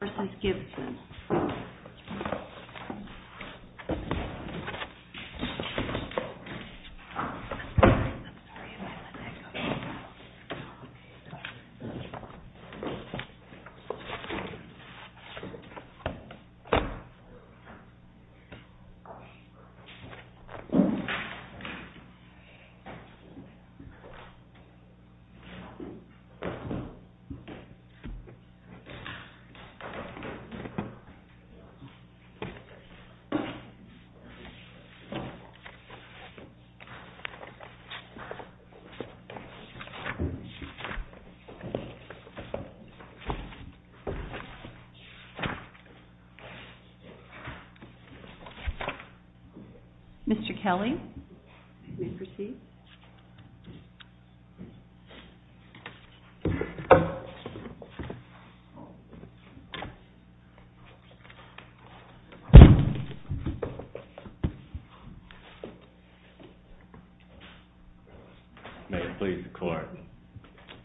v. Gibson. May it please the court.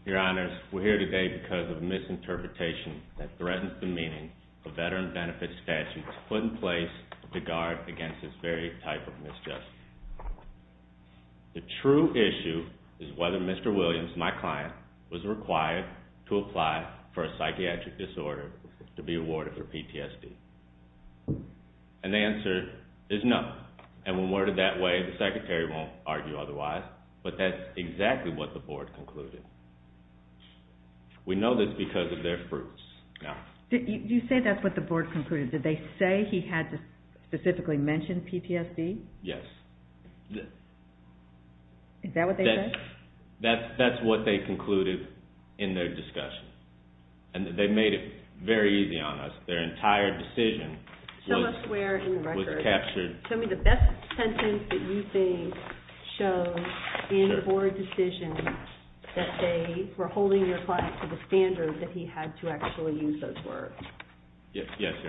Your honors, we're here today because of a misinterpretation that threatens the meaning of veteran benefit statutes put in place to guard against this very type of misjustice. The true issue is whether Mr. Williams, my client, was required to apply for a psychiatric disorder to be awarded for PTSD. And the answer is no. And when worded that way, the secretary won't argue otherwise, but that's exactly what the board concluded. We know this because of their fruits. You say that's what the board concluded. Did they say he had to specifically mention PTSD? Yes. Is that what they said? That's what they concluded in their discussion. Yes, your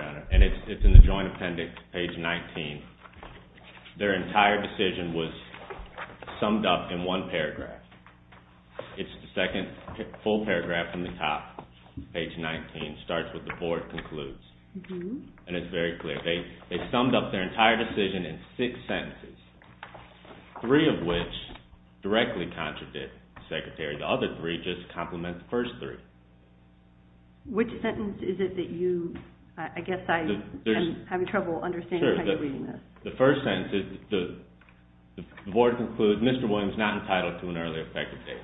honor. And it's in the joint appendix, page 19. Their entire decision was summed up in one paragraph. It's the second full paragraph from the top. And it's in the joint appendix, page 19. It starts with the board concludes. And it's very clear. They summed up their entire decision in six sentences, three of which directly contradict the secretary. The other three just complement the first three. Which sentence is it that you, I guess I'm having trouble understanding how you're reading this. The first sentence, the board concludes Mr. Williams is not entitled to an early effective date.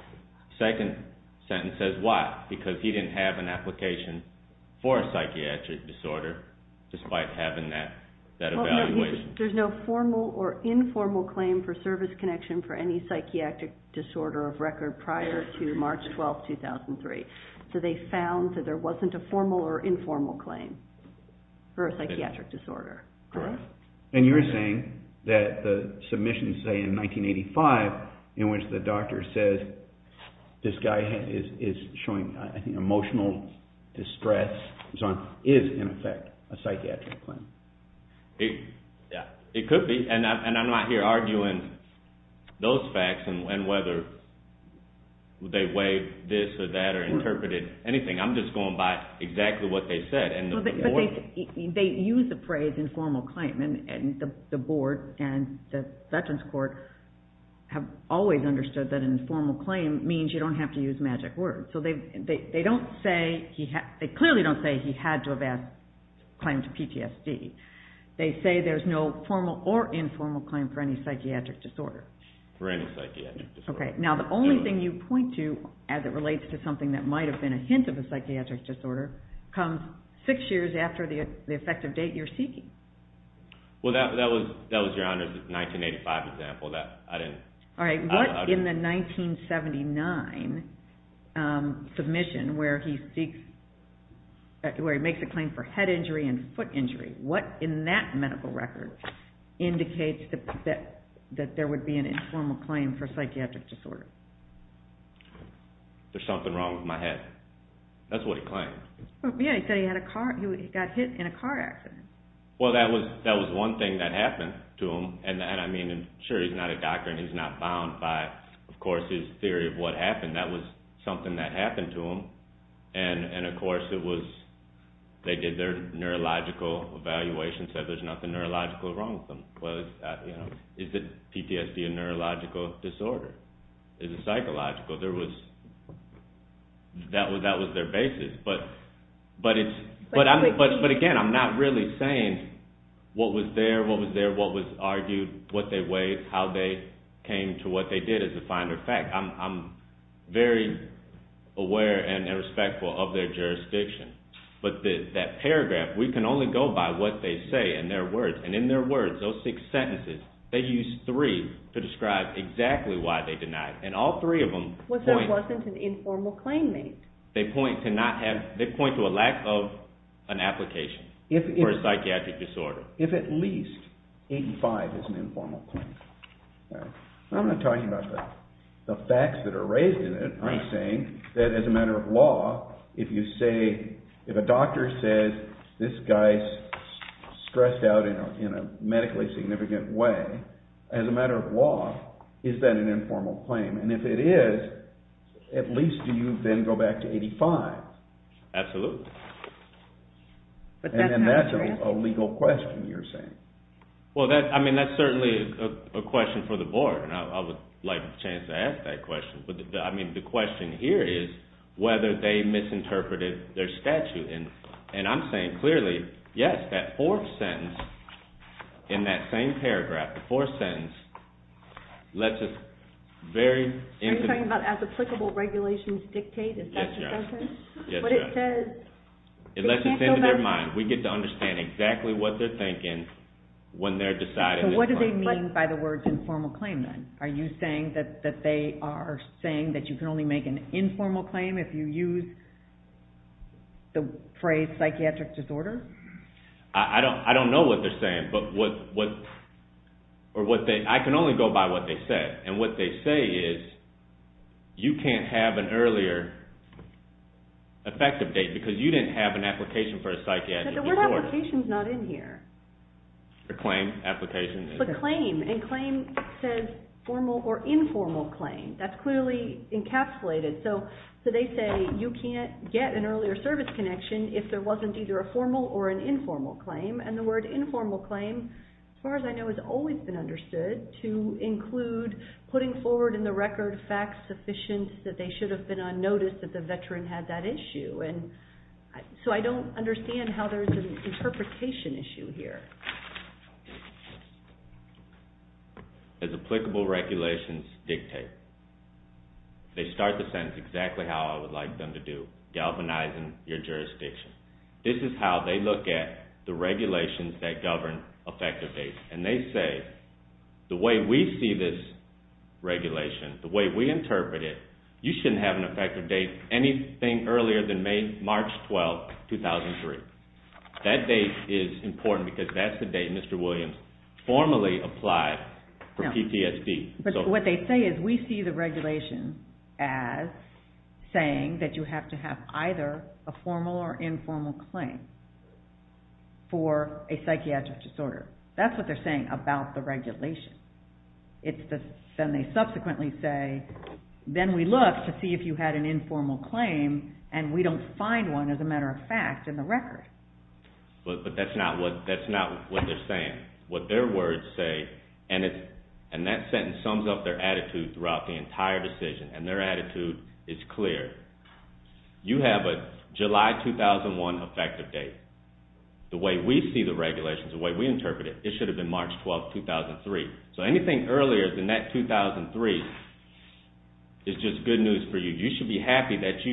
The second sentence says why? Because he didn't have an application for a psychiatric disorder despite having that evaluation. There's no formal or informal claim for service connection for any psychiatric disorder of record prior to March 12, 2003. So they found that there wasn't a formal or informal claim for a psychiatric disorder. Correct. And you're saying that the submission say in 1985 in which the doctor says this guy is showing emotional distress and so on is in effect a psychiatric claim. It could be. And I'm not here arguing those facts and whether they weighed this or that or interpreted anything. I'm just going by exactly what they said. They use the phrase informal claim and the board and the veterans court have always understood that informal claim means you don't have to use magic words. So they clearly don't say he had to have claimed PTSD. They say there's no formal or informal claim for any psychiatric disorder. Now the only thing you point to as it relates to something that might have been a hint of a psychiatric disorder comes six years after the effective date you're seeking. Well that was your honor's 1985 example. Alright, what in the 1979 submission where he makes a claim for head injury and foot injury, what in that medical record indicates that there would be an informal claim for psychiatric disorder? There's something wrong with my head. That's what he claimed. Yeah, he said he got hit in a car accident. Well that was one thing that happened to him. And sure he's not a doctor and he's not bound by of course his theory of what happened. That was something that happened to him. And of course they did their neurological evaluation and said there's nothing neurological wrong with him. Is PTSD a neurological disorder? Is it psychological? That was their basis. But again I'm not really saying what was there, what was there, what was argued, what they weighed, how they came to what they did as a finer fact. I'm very aware and respectful of their jurisdiction. But that paragraph, we can only go by what they say in their words. And in their words, those six sentences, they use three to describe exactly why they denied. And all three of them point… But that wasn't an informal claim made. They point to a lack of an application for a psychiatric disorder. If at least 85 is an informal claim. I'm not talking about the facts that are raised in it. I'm saying that as a matter of law, if you say, if a doctor says this guy's stressed out in a medically significant way, as a matter of law, is that an informal claim? And if it is, at least do you then go back to 85? Absolutely. And that's a legal question you're saying? Well, that's certainly a question for the board and I would like a chance to ask that question. But the question here is whether they misinterpreted their statute. And I'm saying clearly, yes, that fourth sentence in that same paragraph, the fourth sentence, lets us very… Are you talking about as applicable regulations dictate? Is that the sentence? Yes, yes. But it says… It lets us into their mind. We get to understand exactly what they're thinking when they're deciding… So what do they mean by the word informal claim then? Are you saying that they are saying that you can only make an informal claim if you use the phrase psychiatric disorder? I don't know what they're saying. I can only go by what they said. And what they say is you can't have an earlier effective date because you didn't have an application for a psychiatric disorder. But the word application is not in here. The claim, application. And claim says formal or informal claim. That's clearly encapsulated. So they say you can't get an earlier service connection if there wasn't either a formal or an informal claim. And the word informal claim, as far as I know, has always been understood to include putting forward in the record facts sufficient that they should have been on notice that the veteran had that issue. So I don't understand how there's an interpretation issue here. As applicable regulations dictate, they start the sentence exactly how I would like them to do, galvanizing your jurisdiction. This is how they look at the regulations that govern effective dates. And they say the way we see this regulation, the way we interpret it, you shouldn't have an effective date anything earlier than May, March 12, 2003. That date is important because that's the date Mr. Williams formally applied for PTSD. But what they say is we see the regulation as saying that you have to have either a formal or informal claim for a psychiatric disorder. That's what they're saying about the regulation. Then they subsequently say, then we look to see if you had an informal claim and we don't find one, as a matter of fact, in the record. But that's not what they're saying. What their words say, and that sentence sums up their attitude throughout the entire decision, and their attitude is clear. You have a July 2001 effective date. The way we see the regulations, the way we interpret it, it should have been March 12, 2003. So anything earlier than that 2003 is just good news for you. You should be happy that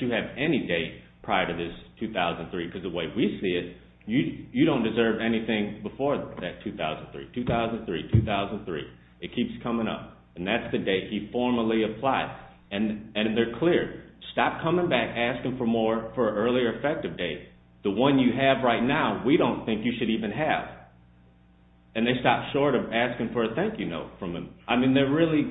you have any date prior to this 2003 because the way we see it, you don't deserve anything before that 2003, 2003, 2003. It keeps coming up. And that's the date he formally applied. And they're clear. Stop coming back asking for more for an earlier effective date. The one you have right now, we don't think you should even have. And they stop short of asking for a thank you note from him. I mean they're really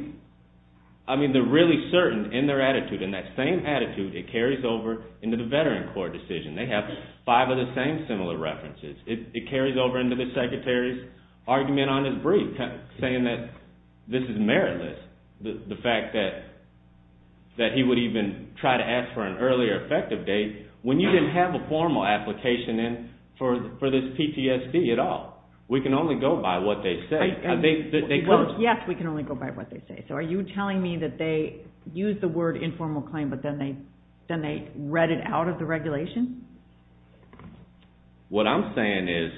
certain in their attitude, and that same attitude, it carries over into the veteran court decision. They have five of the same similar references. It carries over into the secretary's argument on his brief, saying that this is meritless. The fact that he would even try to ask for an earlier effective date when you didn't have a formal application in for this PTSD at all. We can only go by what they say. Yes, we can only go by what they say. So are you telling me that they used the word informal claim, but then they read it out of the regulation? What I'm saying is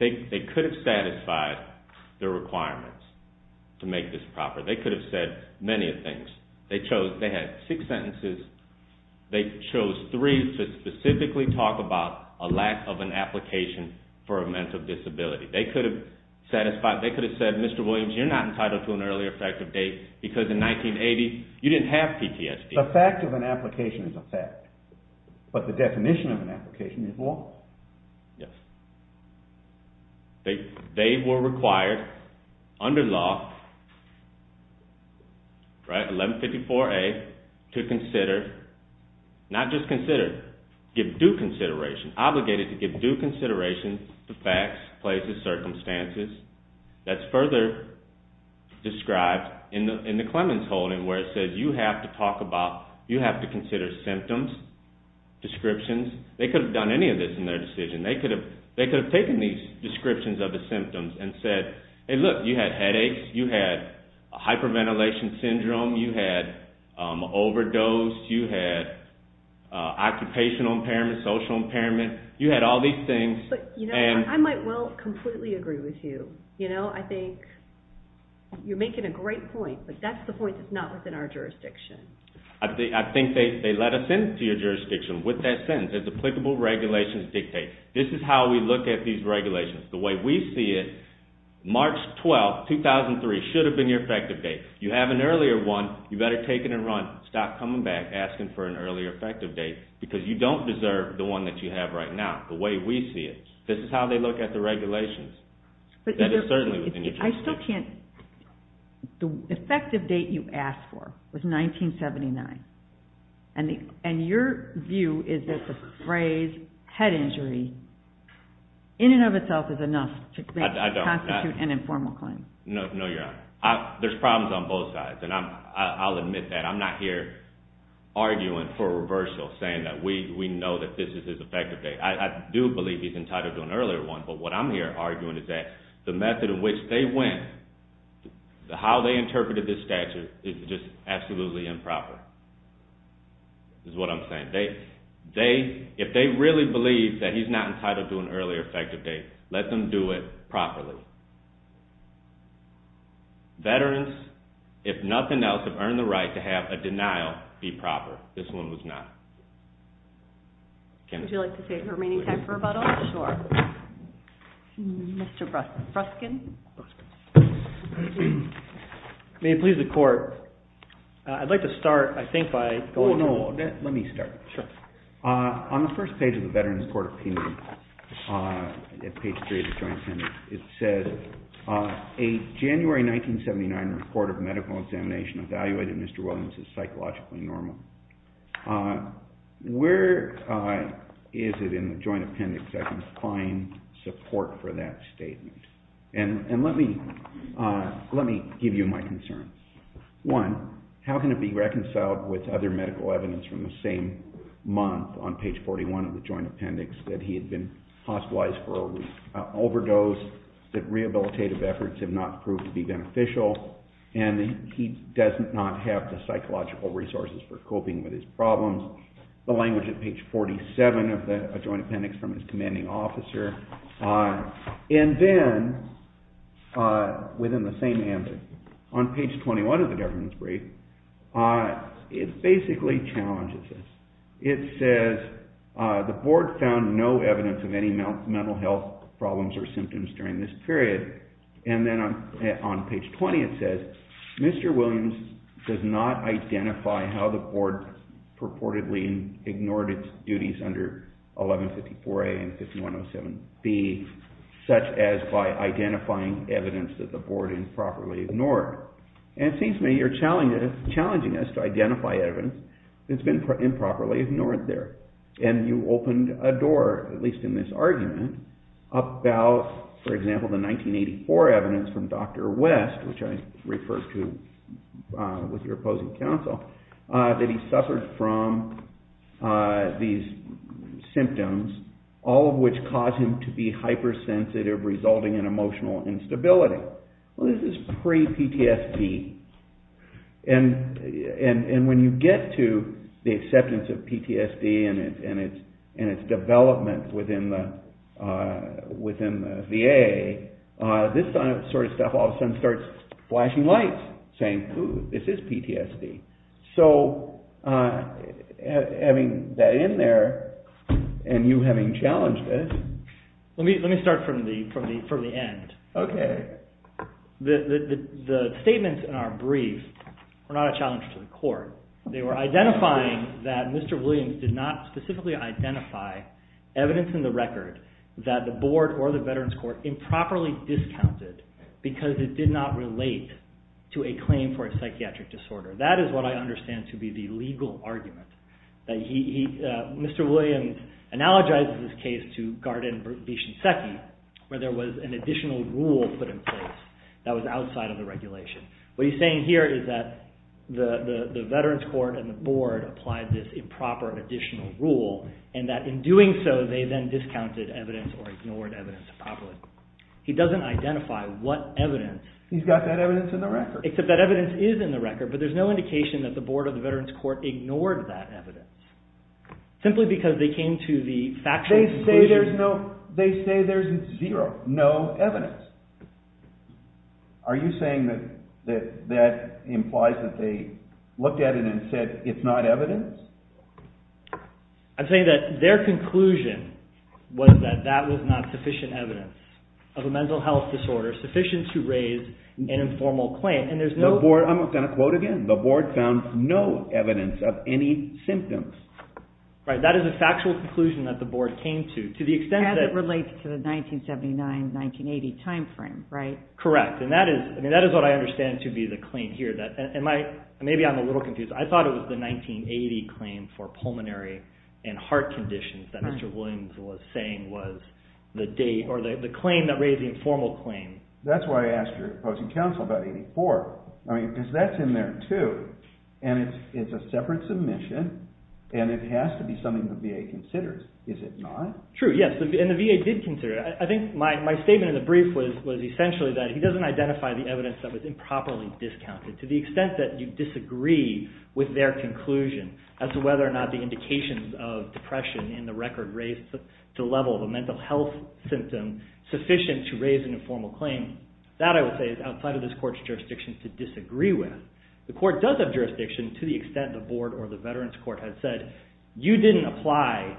they could have satisfied the requirements to make this proper. They could have said many things. They had six sentences. They chose three to specifically talk about a lack of an application for a mental disability. They could have said, Mr. Williams, you're not entitled to an earlier effective date because in 1980 you didn't have PTSD. The fact of an application is a fact, but the definition of an application is what? Yes. They were required under law, 1154A, to consider, not just consider, give due consideration, obligated to give due consideration to facts, places, circumstances. That's further described in the Clemens holding where it says you have to talk about, you have to consider symptoms, descriptions. They could have done any of this in their decision. They could have taken these descriptions of the symptoms and said, hey look, you had headaches, you had hyperventilation syndrome, you had overdose, you had occupational impairment, social impairment, you had all these things. I might well completely agree with you. I think you're making a great point, but that's the point that's not within our jurisdiction. I think they let us into your jurisdiction with that sentence. It's applicable regulations dictate. This is how we look at these regulations. The way we see it, March 12, 2003 should have been your effective date. You have an earlier one, you better take it and run. Stop coming back asking for an earlier effective date because you don't deserve the one that you have right now. The way we see it. This is how they look at the regulations. That is certainly within your jurisdiction. I still can't, the effective date you asked for was 1979 and your view is that the phrase head injury in and of itself is enough to constitute an informal claim. No, your honor. There's problems on both sides and I'll admit that. I'm not here arguing for reversal saying that we know that this is his effective date. I do believe he's entitled to an earlier one, but what I'm here arguing is that the method in which they went, how they interpreted this statute, is just absolutely improper is what I'm saying. If they really believe that he's not entitled to an earlier effective date, let them do it properly. Veterans, if nothing else, have earned the right to have a denial be proper. This one was not. Would you like to take the remaining time for rebuttal? Sure. Mr. Bruskin. May it please the court. I'd like to start, I think, by going through. Let me start. On the first page of the Veterans Court of Appeal, page 3 of the joint appendix, it says, a January 1979 report of medical examination evaluated Mr. Williams as psychologically normal. Where is it in the joint appendix that can find support for that statement? And let me give you my concerns. One, how can it be reconciled with other medical evidence from the same month on page 41 of the joint appendix that he had been hospitalized for an overdose, that rehabilitative efforts have not proved to be beneficial, and he does not have the psychological resources for coping with his problems. The language at page 47 of the joint appendix from his commanding officer. And then, within the same answer, on page 21 of the government's brief, it basically challenges this. It says, the board found no evidence of any mental health problems or symptoms during this period. And then on page 20, it says, Mr. Williams does not identify how the board purportedly ignored its duties under 1154A and 5107B, such as by identifying evidence that the board improperly ignored. And it seems to me you're challenging us to identify evidence that's been improperly ignored there. And you opened a door, at least in this argument, about, for example, the 1984 evidence from Dr. West, which I referred to with your opposing counsel, that he suffered from these symptoms, all of which caused him to be hypersensitive, resulting in emotional instability. So, this is pre-PTSD. And when you get to the acceptance of PTSD and its development within the VA, this sort of stuff all of a sudden starts flashing lights, saying, ooh, this is PTSD. So, having that in there, and you having challenged this... The statements in our brief were not a challenge to the court. They were identifying that Mr. Williams did not specifically identify evidence in the record that the board or the Veterans Court improperly discounted because it did not relate to a claim for a psychiatric disorder. That is what I understand to be the legal argument. Mr. Williams analogizes this case to Gardin v. Shinseki, where there was an additional rule put in place that was outside of the regulation. What he's saying here is that the Veterans Court and the board applied this improper additional rule, and that in doing so, they then discounted evidence or ignored evidence improperly. He doesn't identify what evidence... He's got that evidence in the record. Except that evidence is in the record, but there's no indication that the board or the Veterans Court ignored that evidence, simply because they came to the factual conclusion... They say there's zero, no evidence. Are you saying that that implies that they looked at it and said, it's not evidence? I'm saying that their conclusion was that that was not sufficient evidence of a mental health disorder, sufficient to raise an informal claim, and there's no... I'm going to quote again. The board found no evidence of any symptoms. That is a factual conclusion that the board came to, to the extent that... As it relates to the 1979-1980 timeframe, right? Correct. That is what I understand to be the claim here. Maybe I'm a little confused. I thought it was the 1980 claim for pulmonary and heart conditions that Mr. Williams was saying was the date, or the claim that raised the informal claim. That's why I asked your opposing counsel about 1984. Because that's in there too, and it's a separate submission, and it has to be something the VA considers. Is it not? True, yes. And the VA did consider it. I think my statement in the brief was essentially that he doesn't identify the evidence that was improperly discounted, to the extent that you disagree with their conclusion as to whether or not the indications of depression in the record were raised to the level of a mental health symptom sufficient to raise an informal claim. That, I would say, is outside of this court's jurisdiction to disagree with. The court does have jurisdiction to the extent the board or the veterans court has said, you didn't apply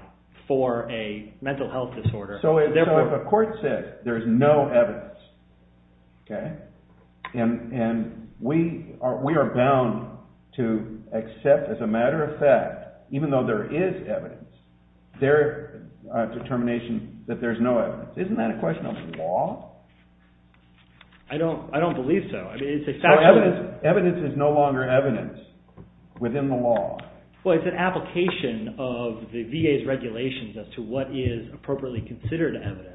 for a mental health disorder. So if a court says there is no evidence, okay, and we are bound to accept as a matter of fact, even though there is evidence, their determination that there is no evidence, isn't that a question of law? I don't believe so. Evidence is no longer evidence within the law. Well, it's an application of the VA's regulations as to what is appropriately considered evidence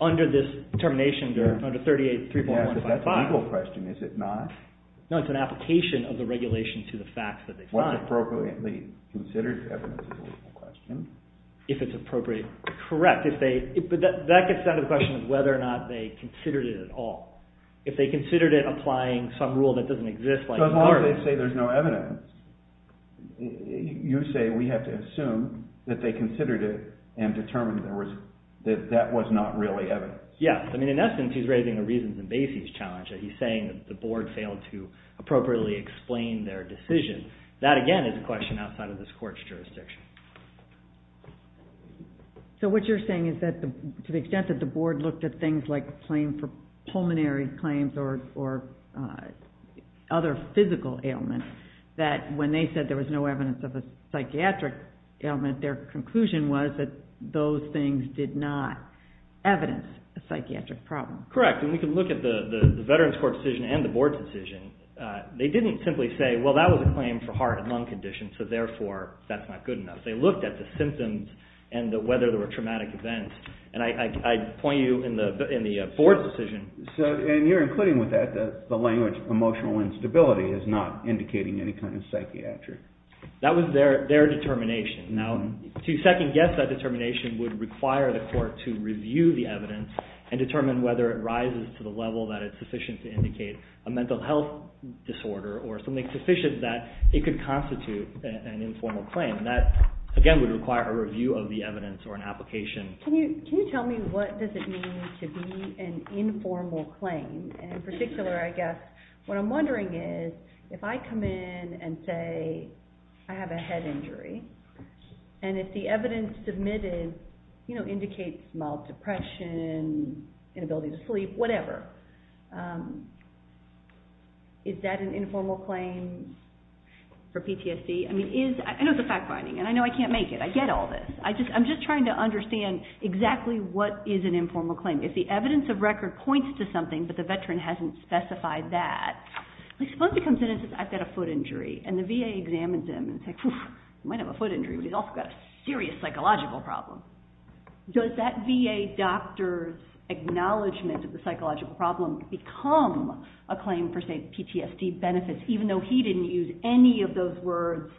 under this termination, under 38.3155. Yes, but that's a legal question, is it not? No, it's an application of the regulation to the facts that they find. What appropriately considered evidence is a legal question. If it's appropriate. Correct. But that gets down to the question of whether or not they considered it at all. If they considered it applying some rule that doesn't exist. So as long as they say there's no evidence, you say we have to assume that they considered it and determined that that was not really evidence. Yes. I mean, in essence, he's raising a reasons and basis challenge. He's saying that the board failed to appropriately explain their decision. That, again, is a question outside of this court's jurisdiction. So what you're saying is that to the extent that the board looked at things like a claim for pulmonary claims or other physical ailments, that when they said there was no evidence of a psychiatric ailment, their conclusion was that those things did not evidence a psychiatric problem. Correct. And we can look at the Veterans Court decision and the board's decision. They didn't simply say, well, that was a claim for heart and lung condition, so therefore that's not good enough. They looked at the symptoms and whether there were traumatic events. And I point you in the board's decision. And you're including with that the language emotional instability is not indicating any kind of psychiatric. That was their determination. Now, to second-guess that determination would require the court to review the evidence and determine whether it rises to the level that it's sufficient to indicate a mental health disorder or something sufficient that it could constitute an informal claim. That, again, would require a review of the evidence or an application. Can you tell me what does it mean to be an informal claim? In particular, I guess what I'm wondering is if I come in and say I have a head injury and if the evidence submitted indicates mild depression, inability to sleep, whatever, is that an informal claim for PTSD? I know it's a fact-finding, and I know I can't make it. I get all this. I'm just trying to understand exactly what is an informal claim. If the evidence of record points to something, but the veteran hasn't specified that, I suppose it comes in and says I've got a foot injury. And the VA examines him and says, phew, you might have a foot injury, but he's also got a serious psychological problem. Does that VA doctor's acknowledgment of the psychological problem become a claim for, say, PTSD benefits, even though he didn't use any of those words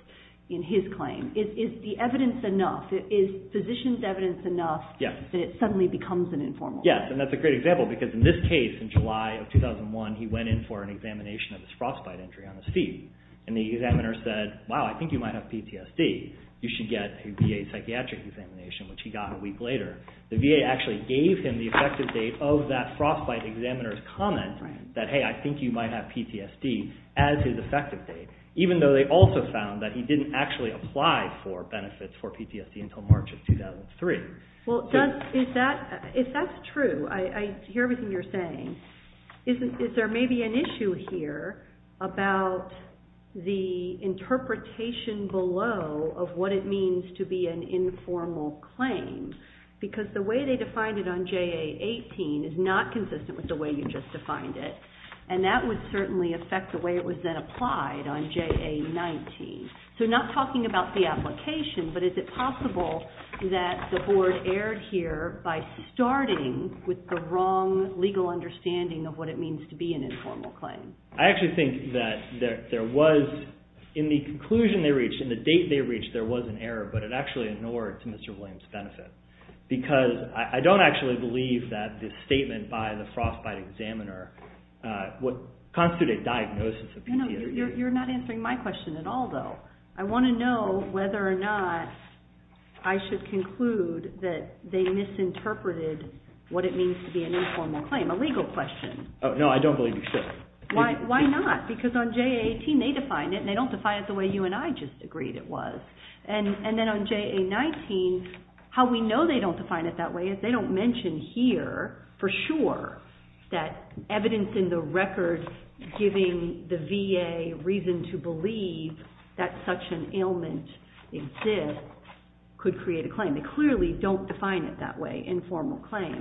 in his claim? Is the evidence enough? Is physician's evidence enough that it suddenly becomes an informal claim? Yes, and that's a great example because in this case, in July of 2001, he went in for an examination of his frostbite injury on his feet, and the examiner said, wow, I think you might have PTSD. You should get a VA psychiatric examination, which he got a week later. The VA actually gave him the effective date of that frostbite examiner's comment that, hey, I think you might have PTSD as his effective date, even though they also found that he didn't actually apply for benefits for PTSD until March of 2003. Well, is that true? I hear everything you're saying. Is there maybe an issue here about the interpretation below of what it means to be an informal claim? Because the way they defined it on JA-18 is not consistent with the way you just defined it, and that would certainly affect the way it was then applied on JA-19. So not talking about the application, but is it possible that the board erred here by starting with the wrong legal understanding of what it means to be an informal claim? I actually think that there was, in the conclusion they reached, in the date they reached, there was an error, but it actually inured to Mr. Williams' benefit because I don't actually believe that this statement by the frostbite examiner would constitute a diagnosis of PTSD. You're not answering my question at all, though. I want to know whether or not I should conclude that they misinterpreted what it means to be an informal claim, a legal question. No, I don't believe you should. Why not? Because on JA-18 they define it, and they don't define it the way you and I just agreed it was. And then on JA-19, how we know they don't define it that way is they don't mention here for sure that evidence in the record giving the VA reason to believe that such an ailment exists could create a claim. They clearly don't define it that way, informal claim.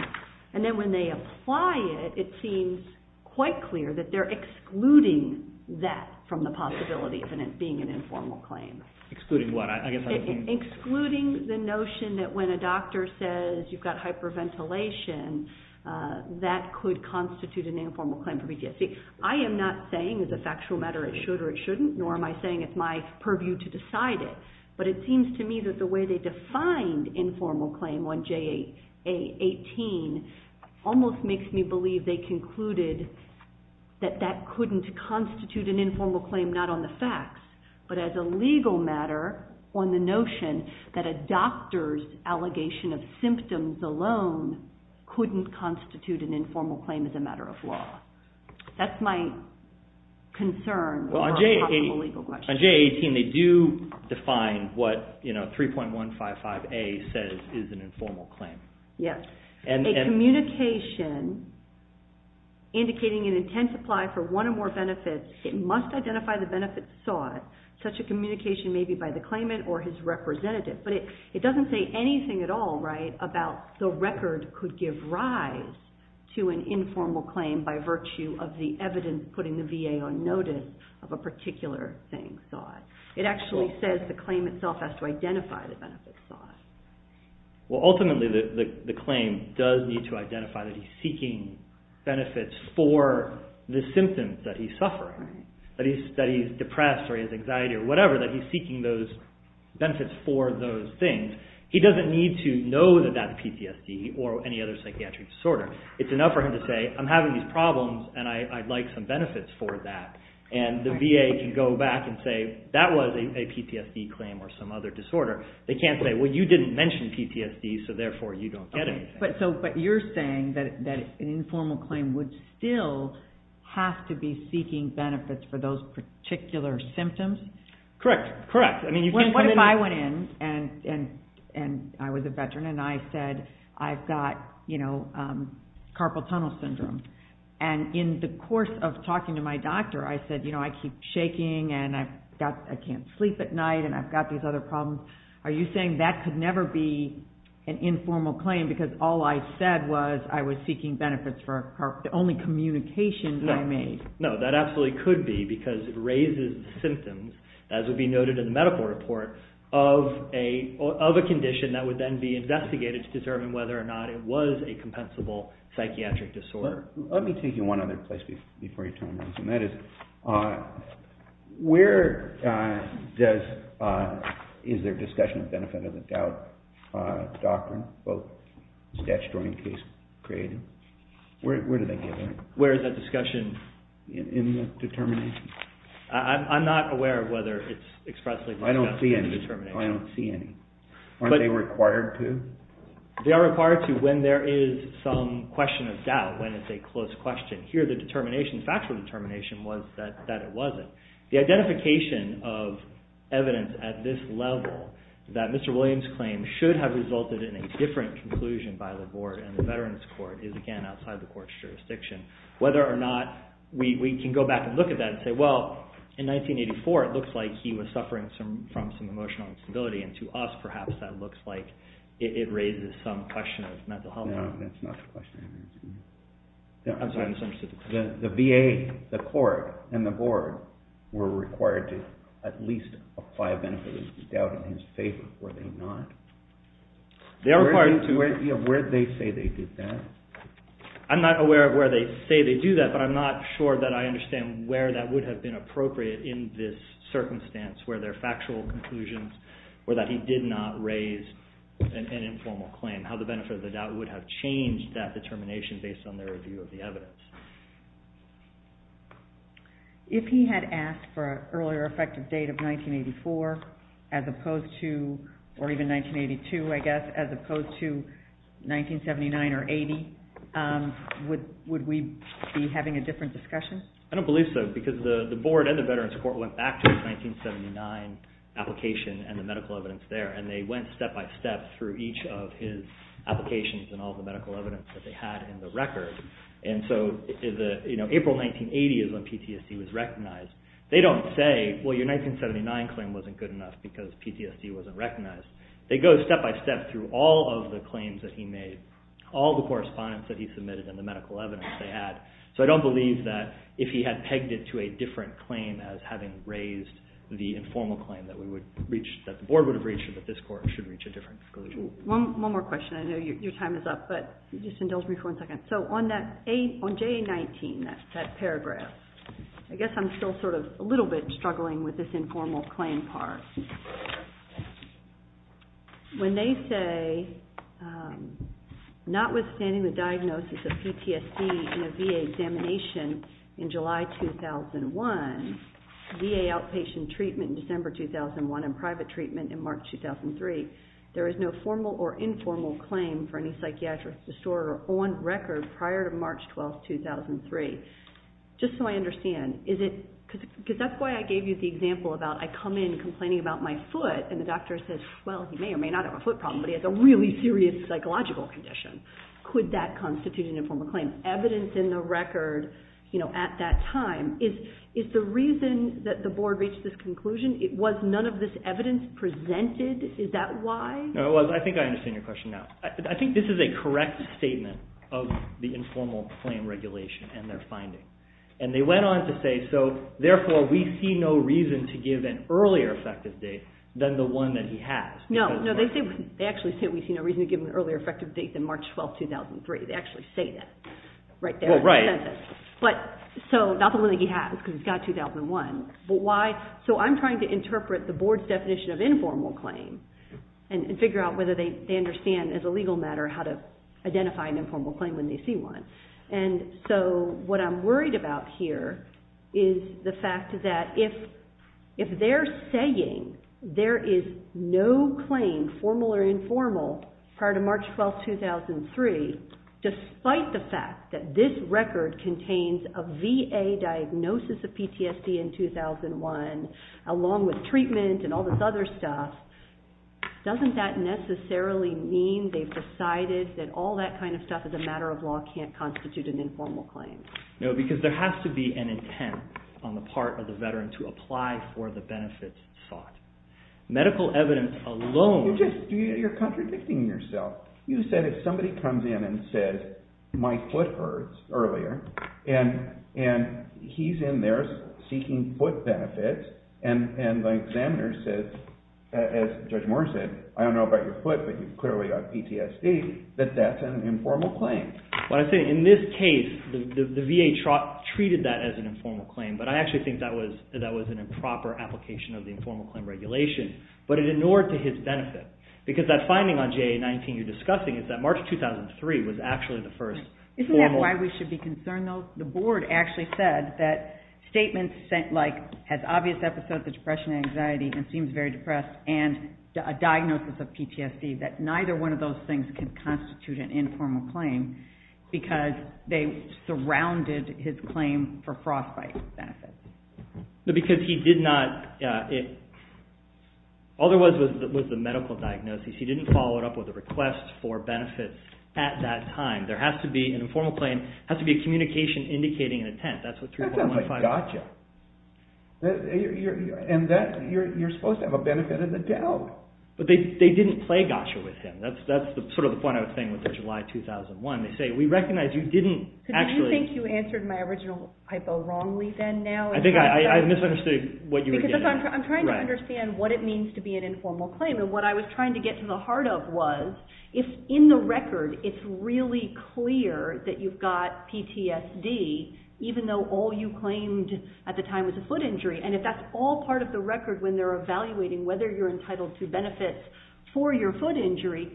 And then when they apply it, it seems quite clear that they're excluding that from the possibility of it being an informal claim. Excluding what? Excluding the notion that when a doctor says you've got hyperventilation, that could constitute an informal claim for PTSD. I am not saying as a factual matter it should or it shouldn't, nor am I saying it's my purview to decide it, but it seems to me that the way they defined informal claim on JA-18 almost makes me believe they concluded that that couldn't constitute an informal claim not on the facts, but as a legal matter on the notion that a doctor's allegation of symptoms alone couldn't constitute an informal claim as a matter of law. That's my concern. On JA-18 they do define what 3.155A says is an informal claim. A communication indicating an intent to apply for one or more benefits, it must identify the benefit sought, such a communication may be by the claimant or his representative. But it doesn't say anything at all about the record could give rise to an informal claim by virtue of the evidence putting the VA on notice of a particular thing sought. It actually says the claim itself has to identify the benefit sought. Ultimately the claim does need to identify that he's seeking benefits for the symptoms that he's suffering, that he's depressed or he has anxiety or whatever, that he's seeking those benefits for those things. He doesn't need to know that that's PTSD or any other psychiatric disorder. It's enough for him to say, I'm having these problems and I'd like some benefits for that. And the VA can go back and say, that was a PTSD claim or some other disorder. They can't say, well you didn't mention PTSD so therefore you don't get anything. But you're saying that an informal claim would still have to be seeking benefits for those particular symptoms? Correct, correct. What if I went in and I was a Veteran and I said, I've got carpal tunnel syndrome. And in the course of talking to my doctor I said, I keep shaking and I can't sleep at night and I've got these other problems. Are you saying that could never be an informal claim because all I said was I was seeking benefits for carpal tunnel syndrome. The only communication I made. No, that absolutely could be because it raises the symptoms, as would be noted in the medical report, of a condition that would then be investigated to determine whether or not it was a compensable psychiatric disorder. Let me take you one other place before you turn around. That is, where is there discussion of benefit of the doubt doctrine, both statutory and case creative? Where do they get that? Where is that discussion? In the determination. I'm not aware of whether it's expressly discussed in the determination. I don't see any. Aren't they required to? They are required to when there is some question of doubt, when it's a close question. Here the determination, the factual determination was that it wasn't. The identification of evidence at this level that Mr. Williams' claim should have resulted in a different conclusion by the board and the veterans court is again outside the court's jurisdiction. Whether or not we can go back and look at that and say, well, in 1984 it looks like he was suffering from some emotional instability and to us perhaps that looks like it raises some question of mental health. No, that's not the question. I'm sorry, I misunderstood the question. The VA, the court, and the board were required to at least apply a benefit of the doubt in his favor. Were they not? They are required to. Where do they say they did that? I'm not aware of where they say they do that, but I'm not sure that I understand where that would have been appropriate in this circumstance where there are factual conclusions or that he did not raise an informal claim. How the benefit of the doubt would have changed that determination based on their review of the evidence. If he had asked for an earlier effective date of 1984 as opposed to, or even 1982 I guess, as opposed to 1979 or 80, would we be having a different discussion? I don't believe so because the board and the veterans court went back to the 1979 application and the medical evidence there and they went step-by-step through each of his applications and all the medical evidence that they had in the record. And so April 1980 is when PTSD was recognized. They don't say, well your 1979 claim wasn't good enough because PTSD wasn't recognized. They go step-by-step through all of the claims that he made, all the correspondence that he submitted and the medical evidence they had. So I don't believe that if he had pegged it to a different claim as having raised the informal claim that the board would have reached a different conclusion, but this court should reach a different conclusion. One more question. I know your time is up, but just indulge me for one second. So on JA-19, that paragraph, I guess I'm still sort of a little bit struggling with this informal claim part. When they say, notwithstanding the diagnosis of PTSD in a VA examination in July 2001, VA outpatient treatment in December 2001, and private treatment in March 2003, there is no formal or informal claim for any psychiatric disorder on record prior to March 12, 2003. Just so I understand, is it, because that's why I gave you the example about I come in complaining about my foot and the doctor says, well he may or may not have a foot problem, but he has a really serious psychological condition. Could that constitute an informal claim? There was no evidence in the record at that time. Is the reason that the board reached this conclusion, was none of this evidence presented? Is that why? No, I think I understand your question now. I think this is a correct statement of the informal claim regulation and their finding. And they went on to say, so therefore we see no reason to give an earlier effective date than the one that he has. No, they actually say we see no reason to give an earlier effective date than March 12, 2003. They actually say that right there. Well, right. But, so, not the one that he has, because he's got 2001. But why? So I'm trying to interpret the board's definition of informal claim and figure out whether they understand as a legal matter how to identify an informal claim when they see one. And so what I'm worried about here is the fact that if they're saying there is no claim, formal or informal, prior to March 12, 2003, despite the fact that this record contains a VA diagnosis of PTSD in 2001, along with treatment and all this other stuff, doesn't that necessarily mean they've decided that all that kind of stuff as a matter of law can't constitute an informal claim? No, because there has to be an intent on the part of the veteran to apply for the benefits sought. Medical evidence alone... You're contradicting yourself. You said if somebody comes in and says, my foot hurts, earlier, and he's in there seeking foot benefits, and the examiner says, as Judge Moore said, I don't know about your foot, but you've clearly got PTSD, that that's an informal claim. What I'm saying, in this case, the VA treated that as an informal claim, but I actually think that was an improper application of the informal claim regulation, but it ignored to his benefit. Because that finding on JA-19 you're discussing is that March 2003 was actually the first formal... Isn't that why we should be concerned, though? The Board actually said that statements like, has obvious episodes of depression and anxiety, and seems very depressed, and a diagnosis of PTSD, that neither one of those things can constitute an informal claim, because they surrounded his claim for frostbite benefits. Because he did not... All there was was the medical diagnosis. He didn't follow it up with a request for benefits at that time. There has to be, an informal claim has to be a communication indicating an intent. That sounds like gotcha. And you're supposed to have a benefit of the doubt. But they didn't play gotcha with him. That's sort of the point I was saying with the July 2001. They say, we recognize you didn't actually... Do you think you answered my original hypo wrongly then, now? I think I misunderstood what you were getting at. Because I'm trying to understand what it means to be an informal claim, and what I was trying to get to the heart of was, if in the record it's really clear that you've got PTSD, even though all you claimed at the time was a foot injury, and if that's all part of the record when they're evaluating whether you're entitled to benefits for your foot injury,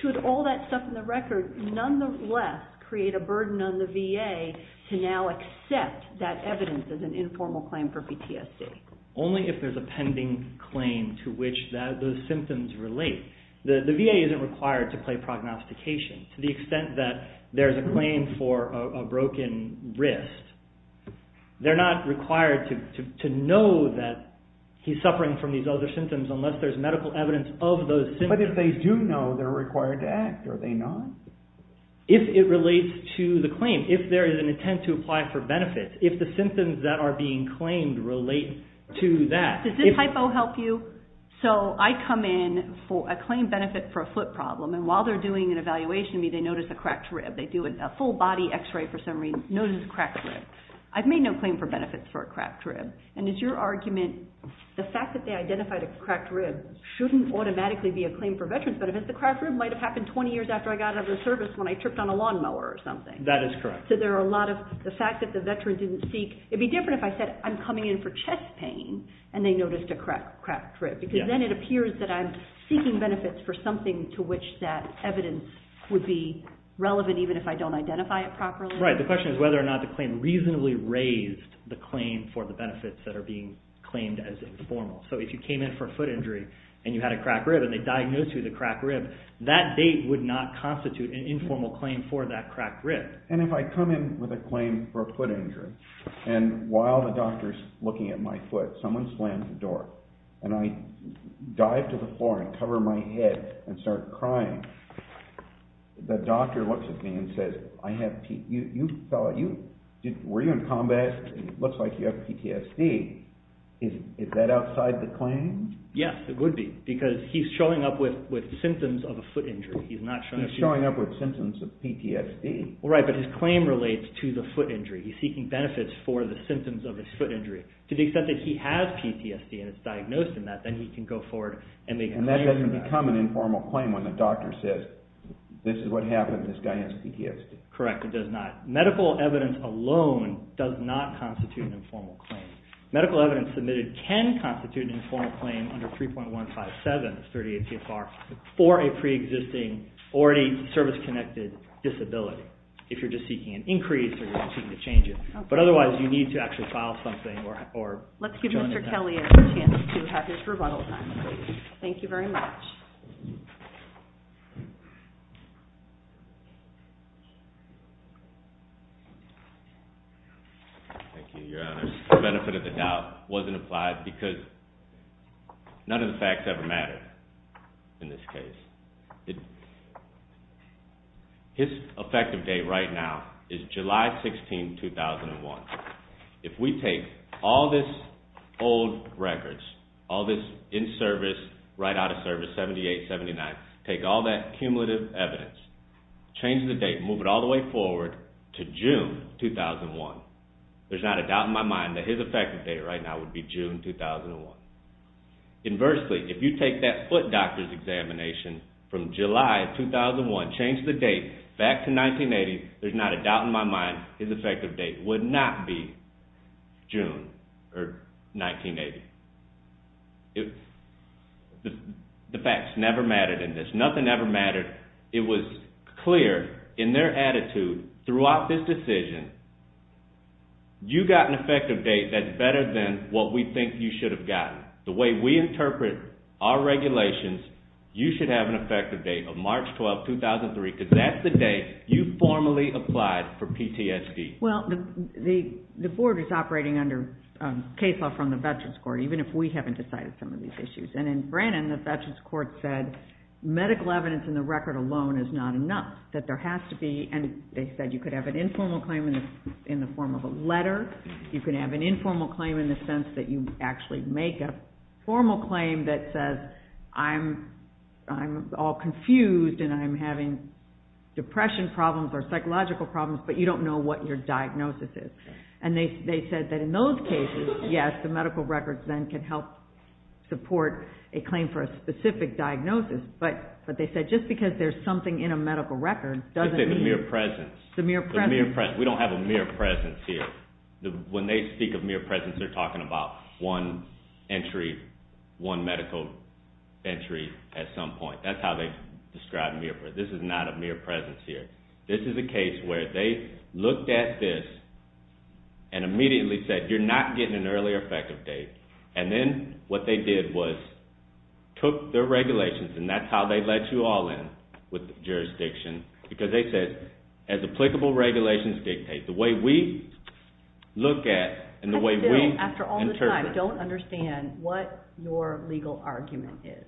should all that stuff in the record nonetheless create a burden on the VA to now accept that evidence as an informal claim for PTSD? Only if there's a pending claim to which those symptoms relate. The VA isn't required to play prognostication. To the extent that there's a claim for a broken wrist, they're not required to know that he's suffering from these other symptoms unless there's medical evidence of those symptoms. But if they do know, they're required to act, are they not? If it relates to the claim. If there is an intent to apply for benefits. If the symptoms that are being claimed relate to that. Does this hypo help you? So I come in, I claim benefit for a foot problem, and while they're doing an evaluation of me, they notice a cracked rib. They do a full body x-ray for some reason, notice a cracked rib. I've made no claim for benefits for a cracked rib. And is your argument, the fact that they identified a cracked rib shouldn't automatically be a claim for veterans benefits. The cracked rib might have happened 20 years after I got out of the service when I tripped on a lawnmower or something. That is correct. So there are a lot of, the fact that the veteran didn't seek, it'd be different if I said, I'm coming in for chest pain, and they noticed a cracked rib. Because then it appears that I'm seeking benefits for something to which that evidence would be relevant even if I don't identify it properly. Right, the question is whether or not the claim reasonably raised the claim for the benefits that are being claimed as informal. So if you came in for a foot injury, and you had a cracked rib, and they diagnosed you with a cracked rib, that date would not constitute an informal claim for that cracked rib. And if I come in with a claim for a foot injury, and while the doctor's looking at my foot, someone slams the door, and I dive to the floor and cover my head and start crying, the doctor looks at me and says, Were you in combat? It looks like you have PTSD. Is that outside the claim? Yes, it would be, because he's showing up with symptoms of a foot injury. He's showing up with symptoms of PTSD. Right, but his claim relates to the foot injury. He's seeking benefits for the symptoms of his foot injury. To the extent that he has PTSD and it's diagnosed in that, then he can go forward and make a claim for that. And that doesn't become an informal claim when the doctor says, This is what happened, this guy has PTSD. Correct, it does not. Medical evidence alone does not constitute an informal claim. Medical evidence submitted can constitute an informal claim under 3.157, that's 38 CFR, for a pre-existing or a service-connected disability, if you're just seeking an increase or you're seeking to change it. But otherwise, you need to actually file something. Let's give Mr. Kelly a chance to have his rebuttal time. Thank you very much. Thank you, Your Honor. The benefit of the doubt wasn't applied because none of the facts ever matter in this case. His effective date right now is July 16, 2001. If we take all this old records, all this in-service, right out of service, 78, 79, take all that cumulative evidence, change the date, move it all the way forward to June 2001, there's not a doubt in my mind that his effective date right now would be June 2001. Inversely, if you take that foot doctor's examination from July 2001, change the date back to 1980, there's not a doubt in my mind his effective date would not be June or 1980. The facts never mattered in this. Nothing ever mattered. It was clear in their attitude throughout this decision, you got an effective date that's better than what we think you should have gotten. The way we interpret our regulations, you should have an effective date of March 12, 2003 because that's the date you formally applied for PTSD. The Board is operating under case law from the Veterans Court, even if we haven't decided some of these issues. In Brannon, the Veterans Court said medical evidence in the record alone is not enough. They said you could have an informal claim in the form of a letter. You can have an informal claim in the sense that you actually make a formal claim that says I'm all confused and I'm having depression problems or psychological problems, but you don't know what your diagnosis is. They said that in those cases, yes, the medical records then can help support a claim for a specific diagnosis. But they said just because there's something in a medical record doesn't mean... The mere presence. The mere presence. We don't have a mere presence here. When they speak of mere presence, they're talking about one medical entry at some point. That's how they describe mere presence. This is not a mere presence here. This is a case where they looked at this and immediately said, you're not getting an early effective date. And then what they did was took their regulations, and that's how they let you all in with the jurisdiction, because they said as applicable regulations dictate, the way we look at and the way we interpret... I still, after all this time, don't understand what your legal argument is.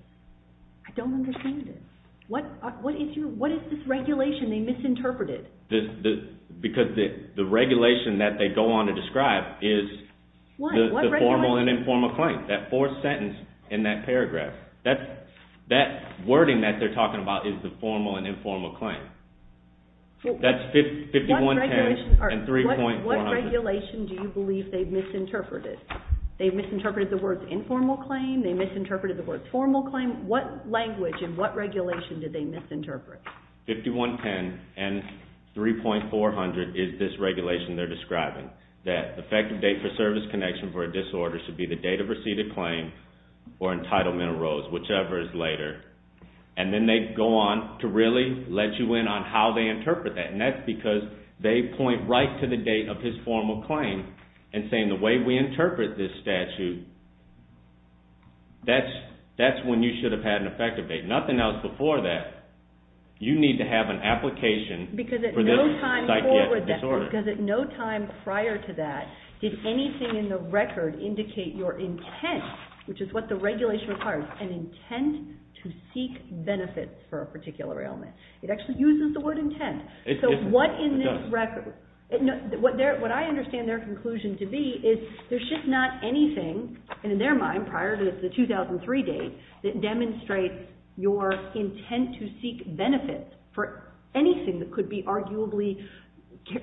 I don't understand it. What is this regulation they misinterpreted? Because the regulation that they go on to describe is the formal and informal claim. That fourth sentence in that paragraph, that wording that they're talking about is the formal and informal claim. That's 5110 and 3.400. What regulation do you believe they've misinterpreted? They've misinterpreted the words informal claim. They misinterpreted the words formal claim. What language and what regulation did they misinterpret? 5110 and 3.400 is this regulation they're describing, that effective date for service connection for a disorder should be the date of receipt of claim or entitlement arose, whichever is later. Then they go on to really let you in on how they interpret that, and that's because they point right to the date of his formal claim and saying the way we interpret this statute, that's when you should have had an effective date. Nothing else before that. You need to have an application for this disorder. Because at no time prior to that, did anything in the record indicate your intent, which is what the regulation requires, an intent to seek benefits for a particular ailment. It actually uses the word intent. So what I understand their conclusion to be is there's just not anything in their mind prior to the 2003 date that demonstrates your intent to seek benefits for anything that could be arguably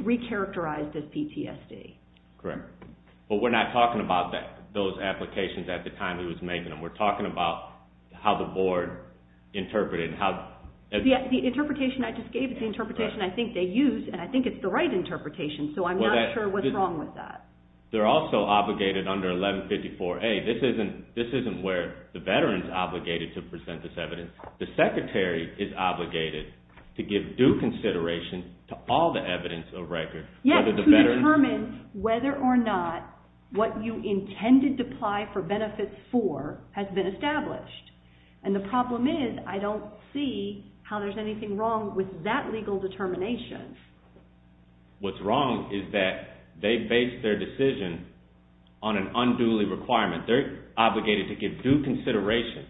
re-characterized as PTSD. Correct. But we're not talking about those applications at the time he was making them. We're talking about how the board interpreted it. The interpretation I just gave is the interpretation I think they used, and I think it's the right interpretation, so I'm not sure what's wrong with that. They're also obligated under 1154A. This isn't where the veteran's obligated to present this evidence. The secretary is obligated to give due consideration to all the evidence of record. Yes, to determine whether or not what you intended to apply for benefits for has been established. And the problem is I don't see how there's anything wrong with that legal determination. What's wrong is that they based their decision on an unduly requirement. They're obligated to give due consideration.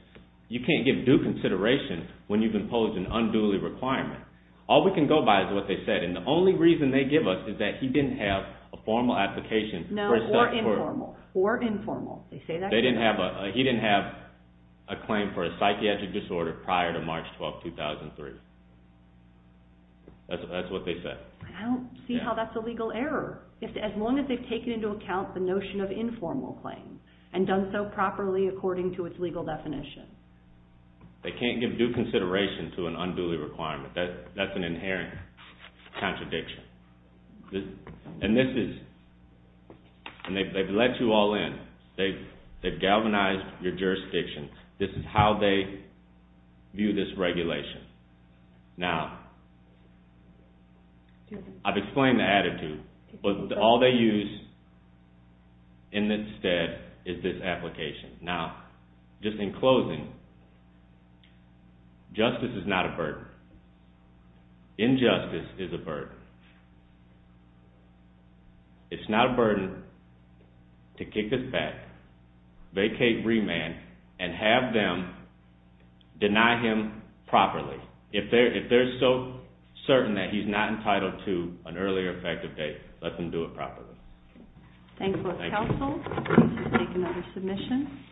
You can't give due consideration when you've imposed an unduly requirement. All we can go by is what they said, and the only reason they give us is that he didn't have a formal application. No, or informal. He didn't have a claim for a psychiatric disorder prior to March 12, 2003. That's what they said. I don't see how that's a legal error, as long as they've taken into account the notion of informal claims and done so properly according to its legal definition. They can't give due consideration to an unduly requirement. That's an inherent contradiction. And they've let you all in. They've galvanized your jurisdiction. This is how they view this regulation. Now, I've explained the attitude. All they use instead is this application. Now, just in closing, justice is not a burden. Injustice is a burden. It's not a burden to kick this back, vacate remand, and have them deny him properly. If they're so certain that he's not entitled to an early or effective date, let them do it properly. Thank you. Thank you, counsel. Please take another submission.